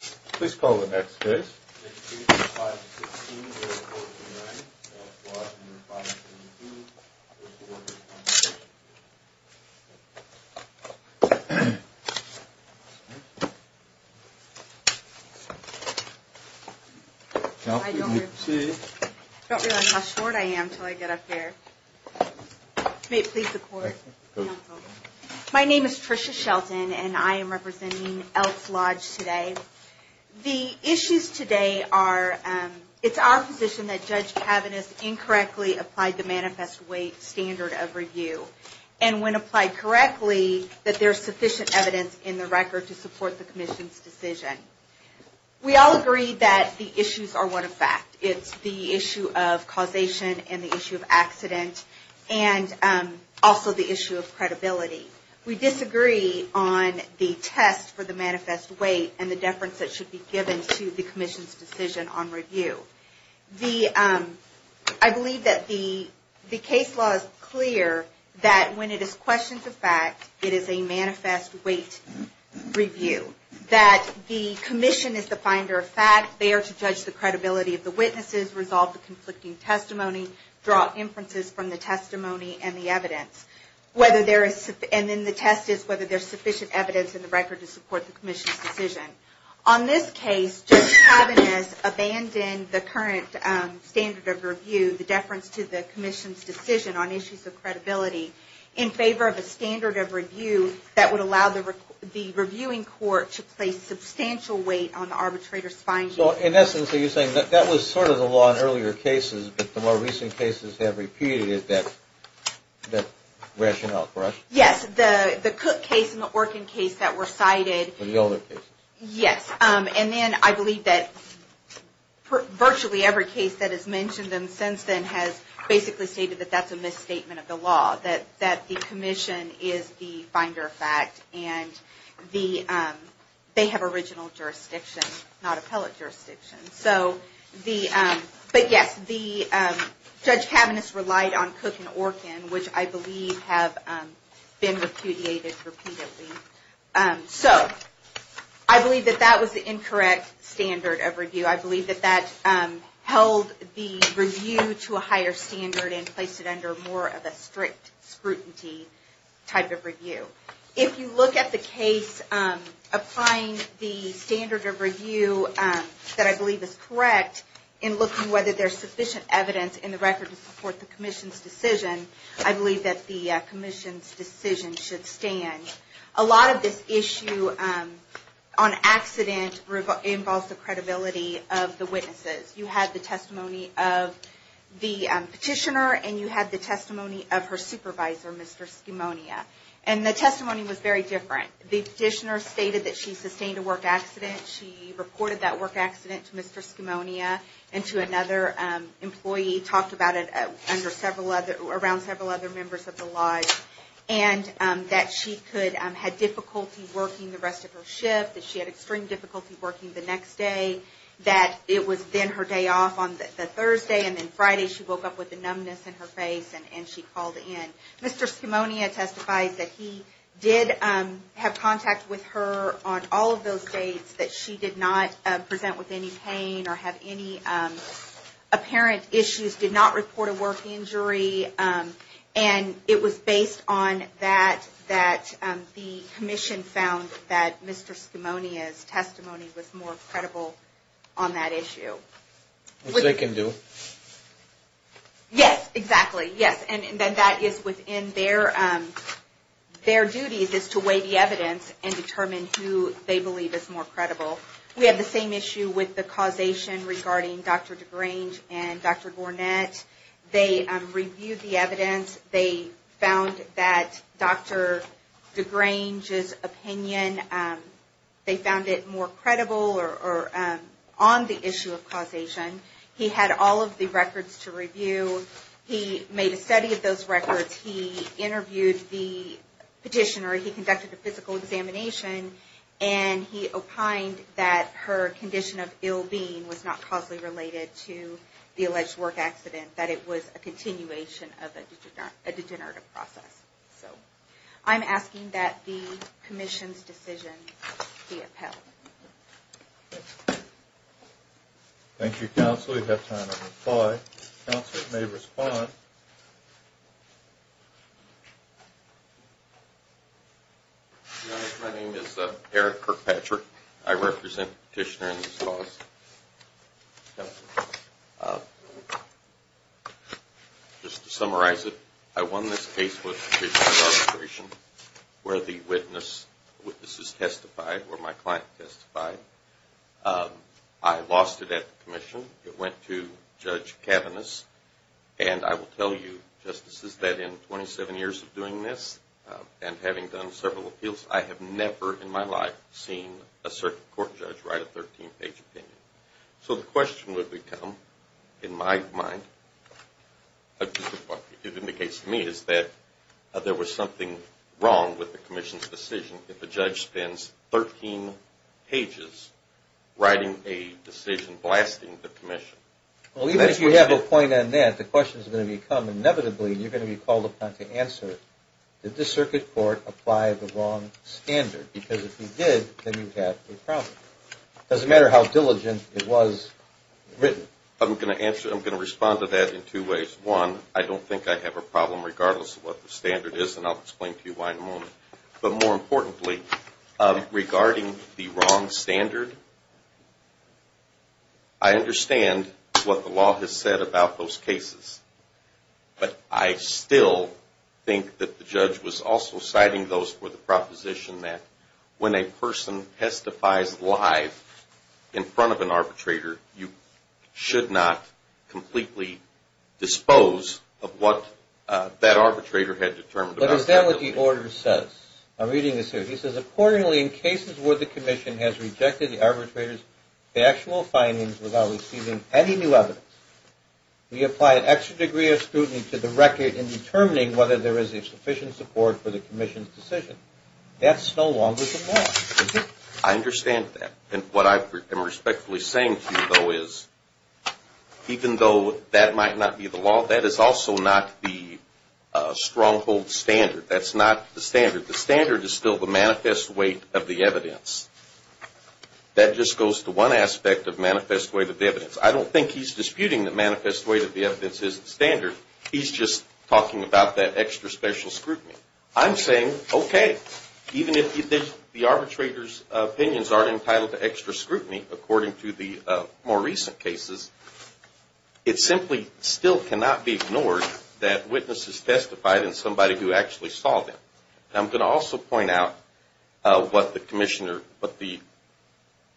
Please call the next case. 685-16-0429, Elks Lodge 552 v. Workers' Compensation Comm'n I don't realize how short I am until I get up here. May it please the Court. My name is Tricia Shelton, and I am representing Elks Lodge today. The issues today are, it's our position that Judge Kavanagh's incorrectly applied the manifest weight standard of review, and when applied correctly, that there's sufficient evidence in the record to support the Commission's decision. We all agree that the issues are one of fact. It's the issue of causation and the issue of accident, and also the issue of credibility. We disagree on the test for the manifest weight and the deference that should be given to the Commission's decision on review. I believe that the case law is clear that when it is questions of fact, it is a manifest weight review. That the Commission is the finder of fact. They are to judge the credibility of the witnesses, resolve the conflicting testimony, draw inferences from the testimony and the evidence. And then the test is whether there's sufficient evidence in the record to support the Commission's decision. On this case, Judge Kavanagh's abandoned the current standard of review, the deference to the Commission's decision on issues of credibility, in favor of a standard of review that would allow the reviewing court to place substantial weight on the arbitrator's findings. So, in essence, are you saying that that was sort of the law in earlier cases, but the more recent cases have repeated it, that rationale, correct? Yes, the Cook case and the Orkin case that were cited. The older cases. Yes, and then I believe that virtually every case that has mentioned them since then has basically stated that that's a misstatement of the law. That the Commission is the finder of fact. And they have original jurisdiction, not appellate jurisdiction. But yes, Judge Kavanagh's relied on Cook and Orkin, which I believe have been repudiated repeatedly. So, I believe that that was the incorrect standard of review. I believe that that held the review to a higher standard and placed it under more of a strict scrutiny type of review. If you look at the case applying the standard of review that I believe is correct, and looking whether there's sufficient evidence in the record to support the Commission's decision, I believe that the Commission's decision should stand. A lot of this issue on accident involves the credibility of the witnesses. You had the testimony of the petitioner and you had the testimony of her supervisor, Mr. Schimonia. And the testimony was very different. The petitioner stated that she sustained a work accident. She reported that work accident to Mr. Schimonia and to another employee. He talked about it around several other members of the lodge. And that she had difficulty working the rest of her shift. That she had extreme difficulty working the next day. That it was then her day off on the Thursday and then Friday she woke up with a numbness in her face and she called in. Mr. Schimonia testified that he did have contact with her on all of those dates. That she did not present with any pain or have any apparent issues. Did not report a work injury. And it was based on that that the Commission found that Mr. Schimonia's testimony was more credible on that issue. Which they can do. Yes, exactly. Yes, and that is within their duties is to weigh the evidence and determine who they believe is more credible. We have the same issue with the causation regarding Dr. DeGrange and Dr. Gornett. They reviewed the evidence. They found that Dr. DeGrange's opinion, they found it more credible or on the issue of causation. He had all of the records to review. So he made a study of those records. He interviewed the petitioner. He conducted a physical examination. And he opined that her condition of ill-being was not causally related to the alleged work accident. That it was a continuation of a degenerative process. So I'm asking that the Commission's decision be upheld. Thank you, Counsel. So we have time to reply. Counsel may respond. My name is Eric Kirkpatrick. I represent the petitioner in this cause. Just to summarize it, I won this case with the petitioner's arbitration. Where the witnesses testified, where my client testified, I lost it at the Commission. It went to Judge Kavanos. And I will tell you, Justices, that in 27 years of doing this and having done several appeals, I have never in my life seen a circuit court judge write a 13-page opinion. So the question would become, in my mind, what it indicates to me is that there was something wrong with the Commission's decision. if a judge spends 13 pages writing a decision blasting the Commission. Well, even if you have a point on that, the question is going to become, inevitably, you're going to be called upon to answer, did the circuit court apply the wrong standard? Because if you did, then you have a problem. It doesn't matter how diligent it was written. I'm going to answer, I'm going to respond to that in two ways. One, I don't think I have a problem regardless of what the standard is, and I'll explain to you why in a moment. But more importantly, regarding the wrong standard, I understand what the law has said about those cases. But I still think that the judge was also citing those for the proposition that when a person testifies live in front of an arbitrator, you should not completely dispose of what that arbitrator had determined about that opinion. But is that what the order says? I'm reading this here. It says, accordingly, in cases where the Commission has rejected the arbitrator's factual findings without receiving any new evidence, we apply an extra degree of scrutiny to the record in determining whether there is a sufficient support for the Commission's decision. That's no longer the law. I understand that. And what I am respectfully saying to you, though, is even though that might not be the law, that is also not the stronghold standard. That's not the standard. The standard is still the manifest weight of the evidence. That just goes to one aspect of manifest weight of the evidence. I don't think he's disputing that manifest weight of the evidence is the standard. He's just talking about that extra special scrutiny. I'm saying, okay, even if the arbitrator's opinions aren't entitled to extra scrutiny, according to the more recent cases, it simply still cannot be ignored that witnesses testified and somebody who actually saw them. I'm going to also point out what the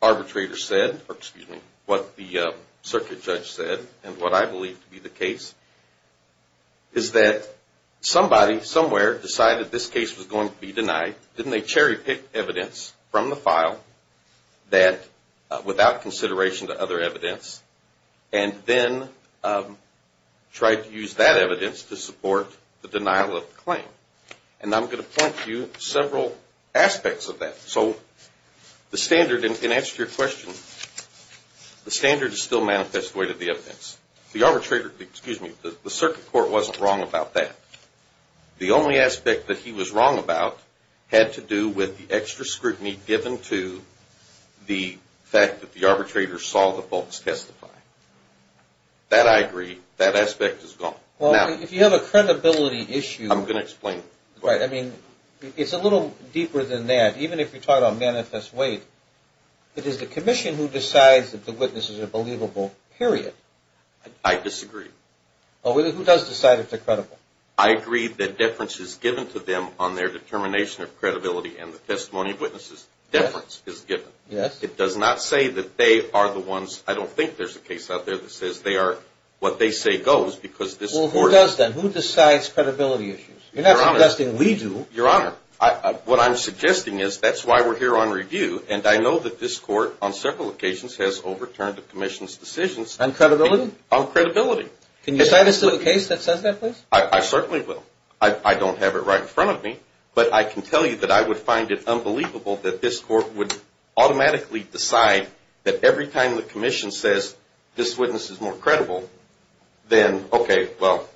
arbitrator said, or excuse me, what the circuit judge said, and what I believe to be the case, is that somebody somewhere decided this case was going to be denied. Didn't they cherry pick evidence from the file without consideration to other evidence and then try to use that evidence to support the denial of the claim? And I'm going to point to several aspects of that. So the standard, in answer to your question, the standard is still manifest weight of the evidence. The circuit court wasn't wrong about that. The only aspect that he was wrong about had to do with the extra scrutiny given to the fact that the arbitrator saw the folks testify. That I agree. That aspect is gone. Well, if you have a credibility issue. I'm going to explain. Right. I mean, it's a little deeper than that. Even if you're talking about manifest weight, it is the commission who decides that the witnesses are believable, period. I disagree. Well, who does decide if they're credible? I agree that deference is given to them on their determination of credibility, and the testimony of witnesses' deference is given. Yes. It does not say that they are the ones. I don't think there's a case out there that says they are what they say goes because this court. Well, who does then? Who decides credibility issues? You're not suggesting we do. Your Honor, what I'm suggesting is that's why we're here on review, and I know that this court on several occasions has overturned the commission's decisions. On credibility? On credibility. Can you cite us to the case that says that, please? I certainly will. I don't have it right in front of me, but I can tell you that I would find it unbelievable that this court would automatically decide that every time the commission says this witness is more credible, then, okay, well.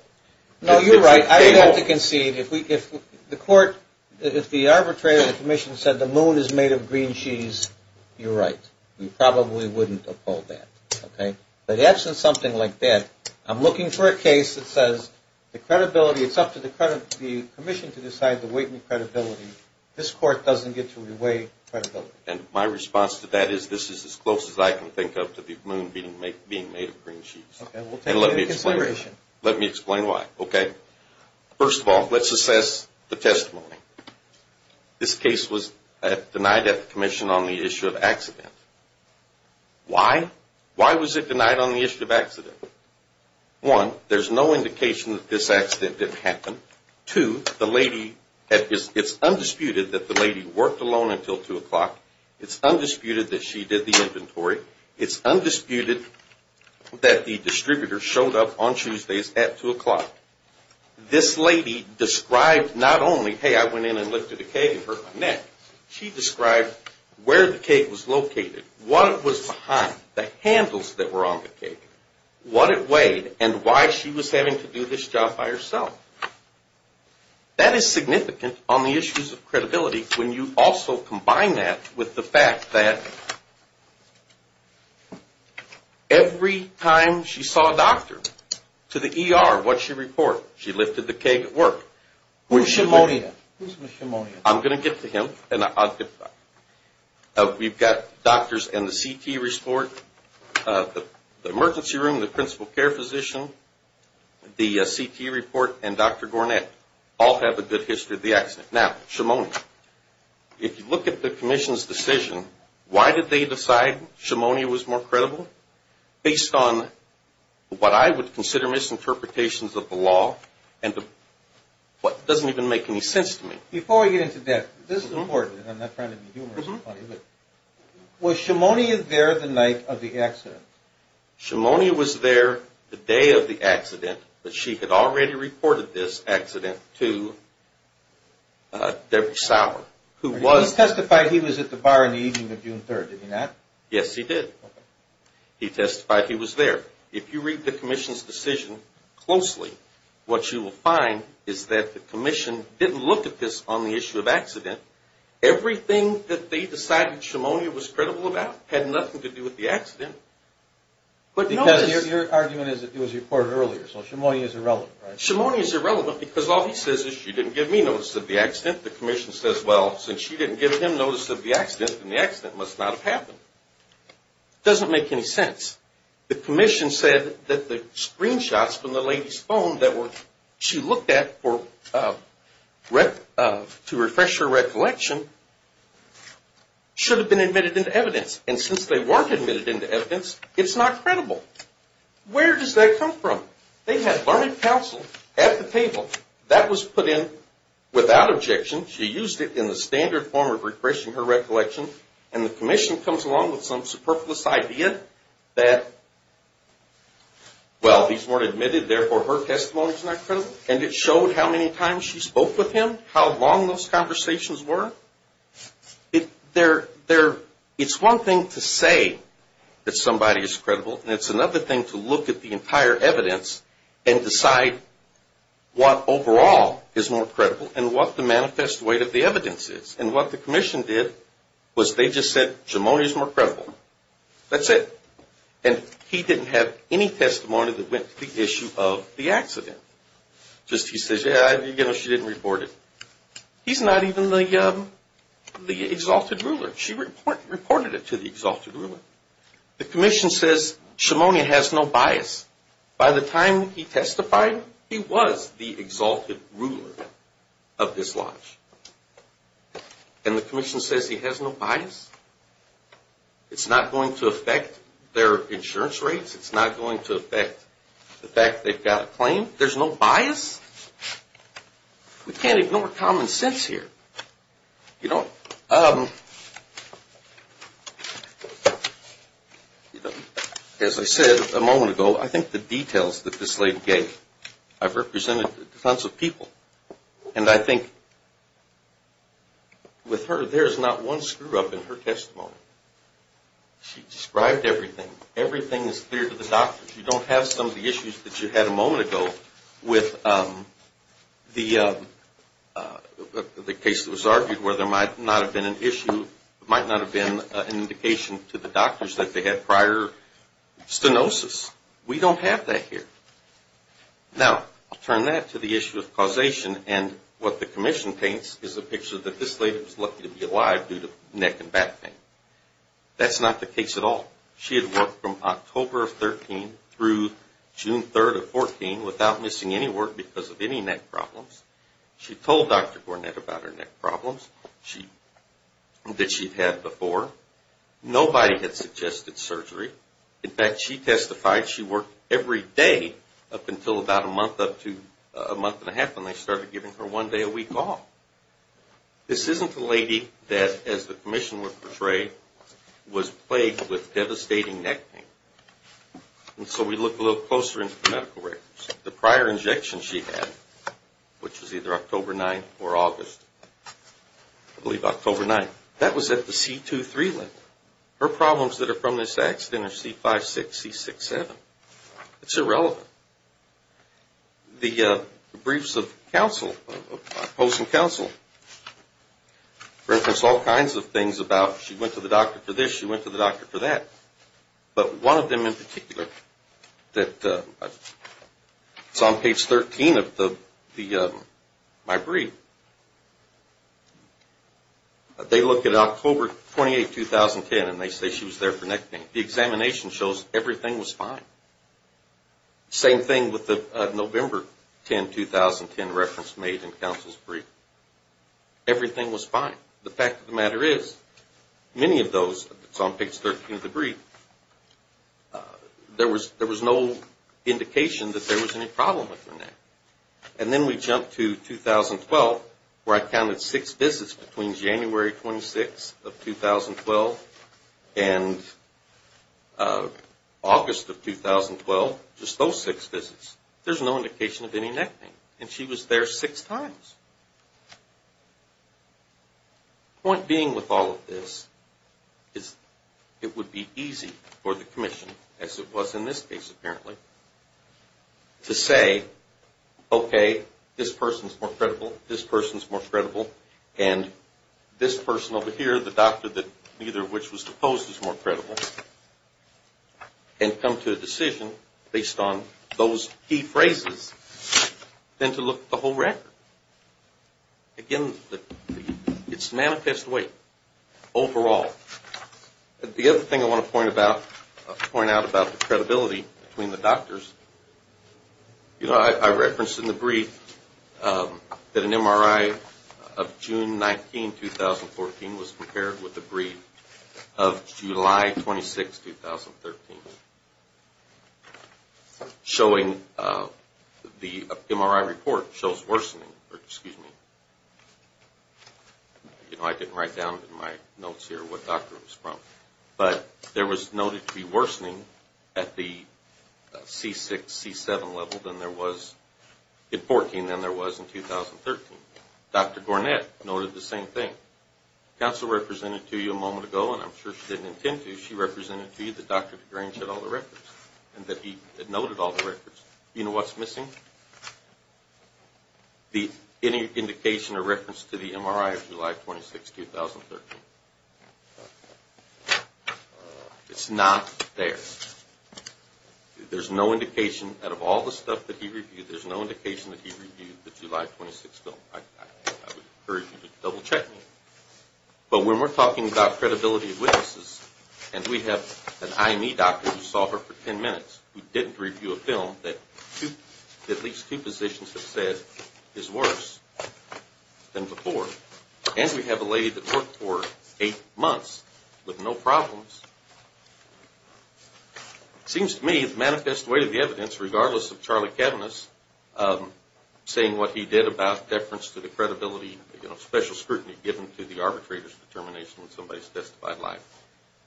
No, you're right. I would have to concede. If the arbitrator of the commission said the moon is made of green cheese, you're right. We probably wouldn't uphold that, okay? But in the absence of something like that, I'm looking for a case that says the credibility, it's up to the commission to decide the weight and credibility. This court doesn't get to weigh credibility. And my response to that is this is as close as I can think of to the moon being made of green cheese. Okay. We'll take that into consideration. Let me explain why, okay? First of all, let's assess the testimony. This case was denied at the commission on the issue of accident. Why? Why was it denied on the issue of accident? One, there's no indication that this accident didn't happen. Two, it's undisputed that the lady worked alone until 2 o'clock. It's undisputed that she did the inventory. It's undisputed that the distributor showed up on Tuesdays at 2 o'clock. This lady described not only, hey, I went in and lifted a keg and hurt my neck. She described where the keg was located, what was behind. The handles that were on the keg. What it weighed and why she was having to do this job by herself. That is significant on the issues of credibility when you also combine that with the fact that every time she saw a doctor, to the ER, what did she report? She lifted the keg at work. Whose pneumonia? Whose pneumonia? I'm going to get to him. We've got doctors in the CT report, the emergency room, the principal care physician, the CT report, and Dr. Gornett. All have a good history of the accident. Now, pneumonia. If you look at the commission's decision, why did they decide pneumonia was more credible? Based on what I would consider misinterpretations of the law and what doesn't even make any sense to me. Before we get into that, this is important, and I'm not trying to be humorous or funny, but was Shimonia there the night of the accident? Shimonia was there the day of the accident, but she had already reported this accident to Debra Sauer. He testified he was at the bar in the evening of June 3rd, did he not? Yes, he did. He testified he was there. If you read the commission's decision closely, what you will find is that the commission didn't look at this on the issue of accident. Everything that they decided Shimonia was credible about had nothing to do with the accident. Your argument is it was reported earlier, so Shimonia is irrelevant, right? Shimonia is irrelevant because all he says is she didn't give me notice of the accident. The commission says, well, since she didn't give him notice of the accident, then the accident must not have happened. It doesn't make any sense. The commission said that the screenshots from the lady's phone that she looked at to refresh her recollection should have been admitted into evidence, and since they weren't admitted into evidence, it's not credible. Where does that come from? They had learned counsel at the table. That was put in without objection. She used it in the standard form of refreshing her recollection, and the commission comes along with some superfluous idea that, well, these weren't admitted, therefore her testimony is not credible, and it showed how many times she spoke with him, how long those conversations were. It's one thing to say that somebody is credible, and it's another thing to look at the entire evidence and decide what overall is more credible and what the manifest weight of the evidence is, and what the commission did was they just said Shimonia is more credible. That's it, and he didn't have any testimony that went to the issue of the accident. Just he says, you know, she didn't report it. He's not even the exalted ruler. She reported it to the exalted ruler. The commission says Shimonia has no bias. By the time he testified, he was the exalted ruler of this lodge, and the commission says he has no bias. It's not going to affect their insurance rates. It's not going to affect the fact they've got a claim. There's no bias. We can't ignore common sense here. You know, as I said a moment ago, I think the details that this lady gave, I've represented tons of people, and I think with her, there's not one screw-up in her testimony. She described everything. Everything is clear to the doctor. You don't have some of the issues that you had a moment ago with the case that was argued where there might not have been an issue, might not have been an indication to the doctors that they had prior stenosis. We don't have that here. Now, I'll turn that to the issue of causation, and what the commission paints is a picture that this lady was lucky to be alive due to neck and back pain. That's not the case at all. She had worked from October of 2013 through June 3rd of 2014 without missing any work because of any neck problems. She told Dr. Gornett about her neck problems that she'd had before. Nobody had suggested surgery. In fact, she testified she worked every day up until about a month, up to a month and a half, and they started giving her one day a week off. This isn't the lady that, as the commission would portray, was plagued with devastating neck pain. And so we look a little closer into the medical records. The prior injection she had, which was either October 9th or August, I believe October 9th, that was at the C23 level. Her problems that are from this accident are C56, C67. It's irrelevant. The briefs of counsel, post and counsel reference all kinds of things about she went to the doctor for this, she went to the doctor for that. But one of them in particular that's on page 13 of my brief, they look at October 28, 2010, and they say she was there for neck pain. The examination shows everything was fine. Same thing with the November 10, 2010 reference made in counsel's brief. Everything was fine. The fact of the matter is, many of those that's on page 13 of the brief, there was no indication that there was any problem with her neck. And then we jump to 2012, where I counted six visits between January 26 of 2012 and August of 2012, just those six visits. There's no indication of any neck pain. And she was there six times. The point being with all of this is it would be easy for the commission, as it was in this case apparently, to say, okay, this person's more credible, this person's more credible, and this person over here, the doctor that neither of which was supposed is more credible, and come to a decision based on those key phrases than to look at the whole record. Again, it's manifest weight overall. The other thing I want to point out about the credibility between the doctors, you know, I referenced in the brief that an MRI of June 19, 2014 was compared with the brief of July 26, 2013, showing the MRI report shows worsening, or excuse me. You know, I didn't write down in my notes here what doctor it was from. But there was noted to be worsening at the C6, C7 level than there was in 14 than there was in 2013. Dr. Gornett noted the same thing. Counsel represented to you a moment ago, and I'm sure she didn't intend to. She represented to you that Dr. DeGrange had all the records and that he had noted all the records. You know what's missing? Any indication or reference to the MRI of July 26, 2013. It's not there. There's no indication out of all the stuff that he reviewed, there's no indication that he reviewed the July 26 film. I would encourage you to double check me. But when we're talking about credibility of witnesses, and we have an IME doctor who saw her for 10 minutes, who didn't review a film that at least two physicians have said is worse than before. And we have a lady that worked for eight months with no problems. It seems to me the manifest weight of the evidence, regardless of Charlie Kavanagh's saying what he did about deference to the credibility, you know, special scrutiny given to the arbitrator's determination on somebody's testified life,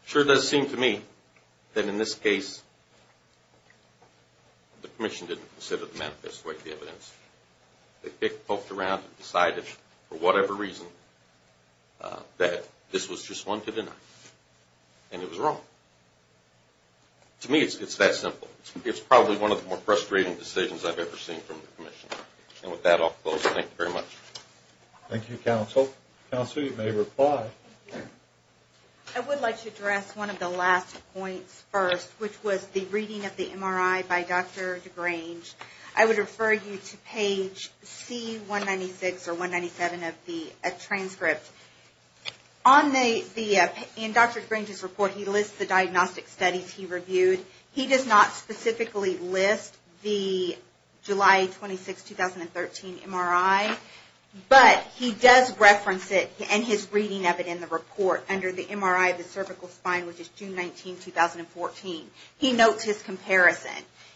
sure does seem to me that in this case the commission didn't consider the manifest weight of the evidence. They poked around and decided for whatever reason that this was just one to deny. And it was wrong. To me it's that simple. It's probably one of the more frustrating decisions I've ever seen from the commission. And with that I'll close. Thank you very much. Thank you, counsel. Counsel, you may reply. I would like to address one of the last points first, which was the reading of the MRI by Dr. DeGrange. I would refer you to page C196 or 197 of the transcript. In Dr. DeGrange's report he lists the diagnostic studies he reviewed. He does not specifically list the July 26, 2013 MRI, but he does reference it and his reading of it in the report under the MRI of the cervical spine, which is June 19, 2014. He notes his comparison.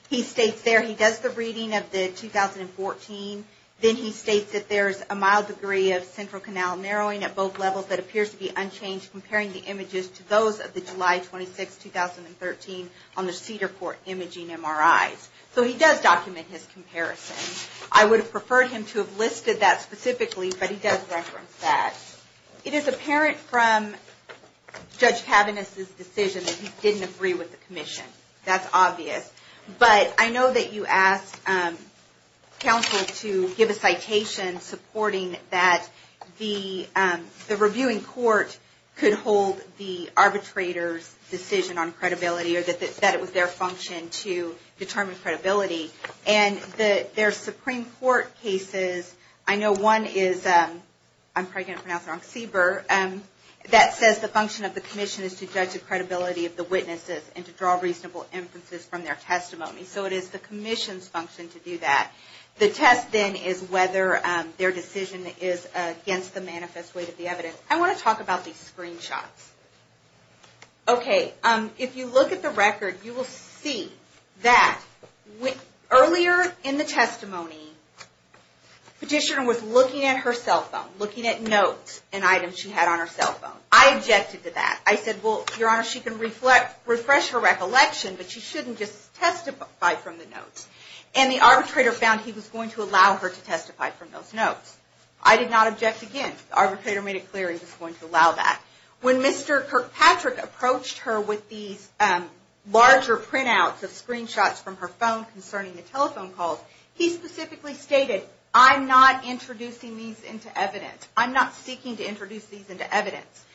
He states there he does the reading of the 2014, then he states that there's a mild degree of central canal narrowing at both levels that appears to be unchanged comparing the images to those of the July 26, 2013 on the Cedarport imaging MRIs. So he does document his comparison. I would have preferred him to have listed that specifically, but he does reference that. It is apparent from Judge Kavanagh's decision that he didn't agree with the commission. That's obvious. But I know that you asked counsel to give a citation supporting that the reviewing court could hold the arbitrator's decision on credibility, or that it was their function to determine credibility. And there's Supreme Court cases, I know one is, I'm probably going to pronounce it wrong, CBER, that says the function of the commission is to judge the credibility of the witnesses and to draw reasonable inferences from their testimony. So it is the commission's function to do that. The test then is whether their decision is against the manifest weight of the evidence. I want to talk about these screenshots. If you look at the record, you will see that earlier in the testimony, petitioner was looking at her cell phone, looking at notes and items she had on her cell phone. I objected to that. I said, well, your honor, she can refresh her recollection, but she shouldn't just testify from the notes. And the arbitrator found he was going to allow her to testify from those notes. I did not object again. The arbitrator made it clear he was going to allow that. When Mr. Kirkpatrick approached her with these larger printouts of screenshots from her phone concerning the telephone calls, he specifically stated, I'm not introducing these into evidence. I'm not seeking to introduce these into evidence.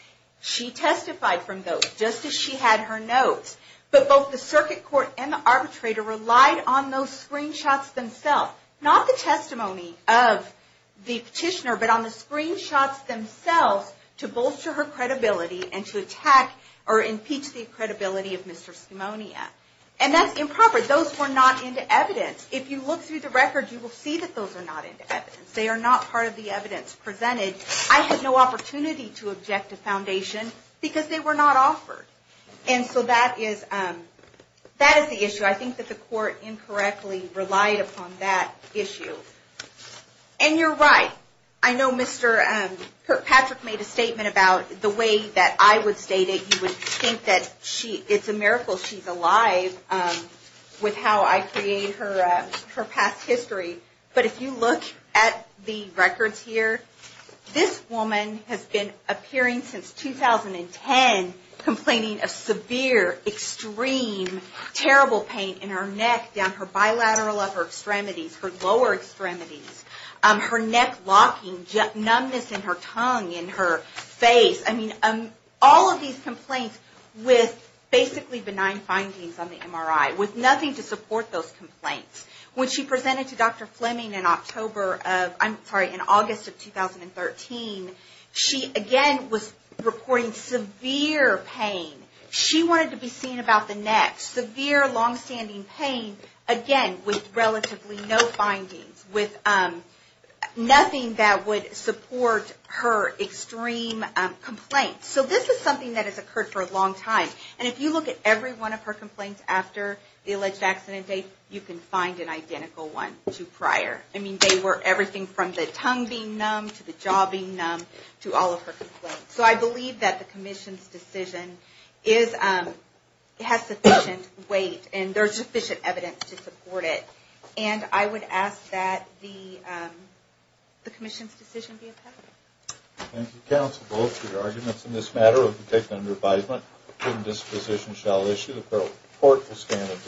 She testified from those, just as she had her notes. But both the circuit court and the arbitrator relied on those screenshots themselves. Not the testimony of the petitioner, but on the screenshots themselves to bolster her credibility and to attack or impeach the credibility of Mr. Skamonia. And that's improper. Those were not into evidence. If you look through the record, you will see that those are not into evidence. They are not part of the evidence presented. I had no opportunity to object to foundation because they were not offered. And so that is the issue. I think that the court incorrectly relied upon that issue. And you're right. I know Mr. Kirkpatrick made a statement about the way that I would state it. You would think that it's a miracle she's alive with how I create her past history. But if you look at the records here, this woman has been appearing since 2010, complaining of severe, extreme, terrible pain in her neck, down her bilateral upper extremities, her lower extremities, her neck locking, numbness in her tongue, in her face. I mean, all of these complaints with basically benign findings on the MRI, with nothing to support those complaints. When she presented to Dr. Fleming in October of, I'm sorry, in August of 2013, she again was reporting severe pain. She wanted to be seen about the neck. Severe, long-standing pain, again with relatively no findings, with nothing that would support her extreme complaints. So this is something that has occurred for a long time. And if you look at every one of her complaints after the alleged accident date, you can find an identical one to prior. I mean, they were everything from the tongue being numb, to the jaw being numb, to all of her complaints. So I believe that the Commission's decision has sufficient weight, and there's sufficient evidence to support it. And I would ask that the Commission's decision be approved. Thank you, counsel, both for your arguments in this matter. We'll take them under advisement. And this position shall issue. The court will stand at brief recess.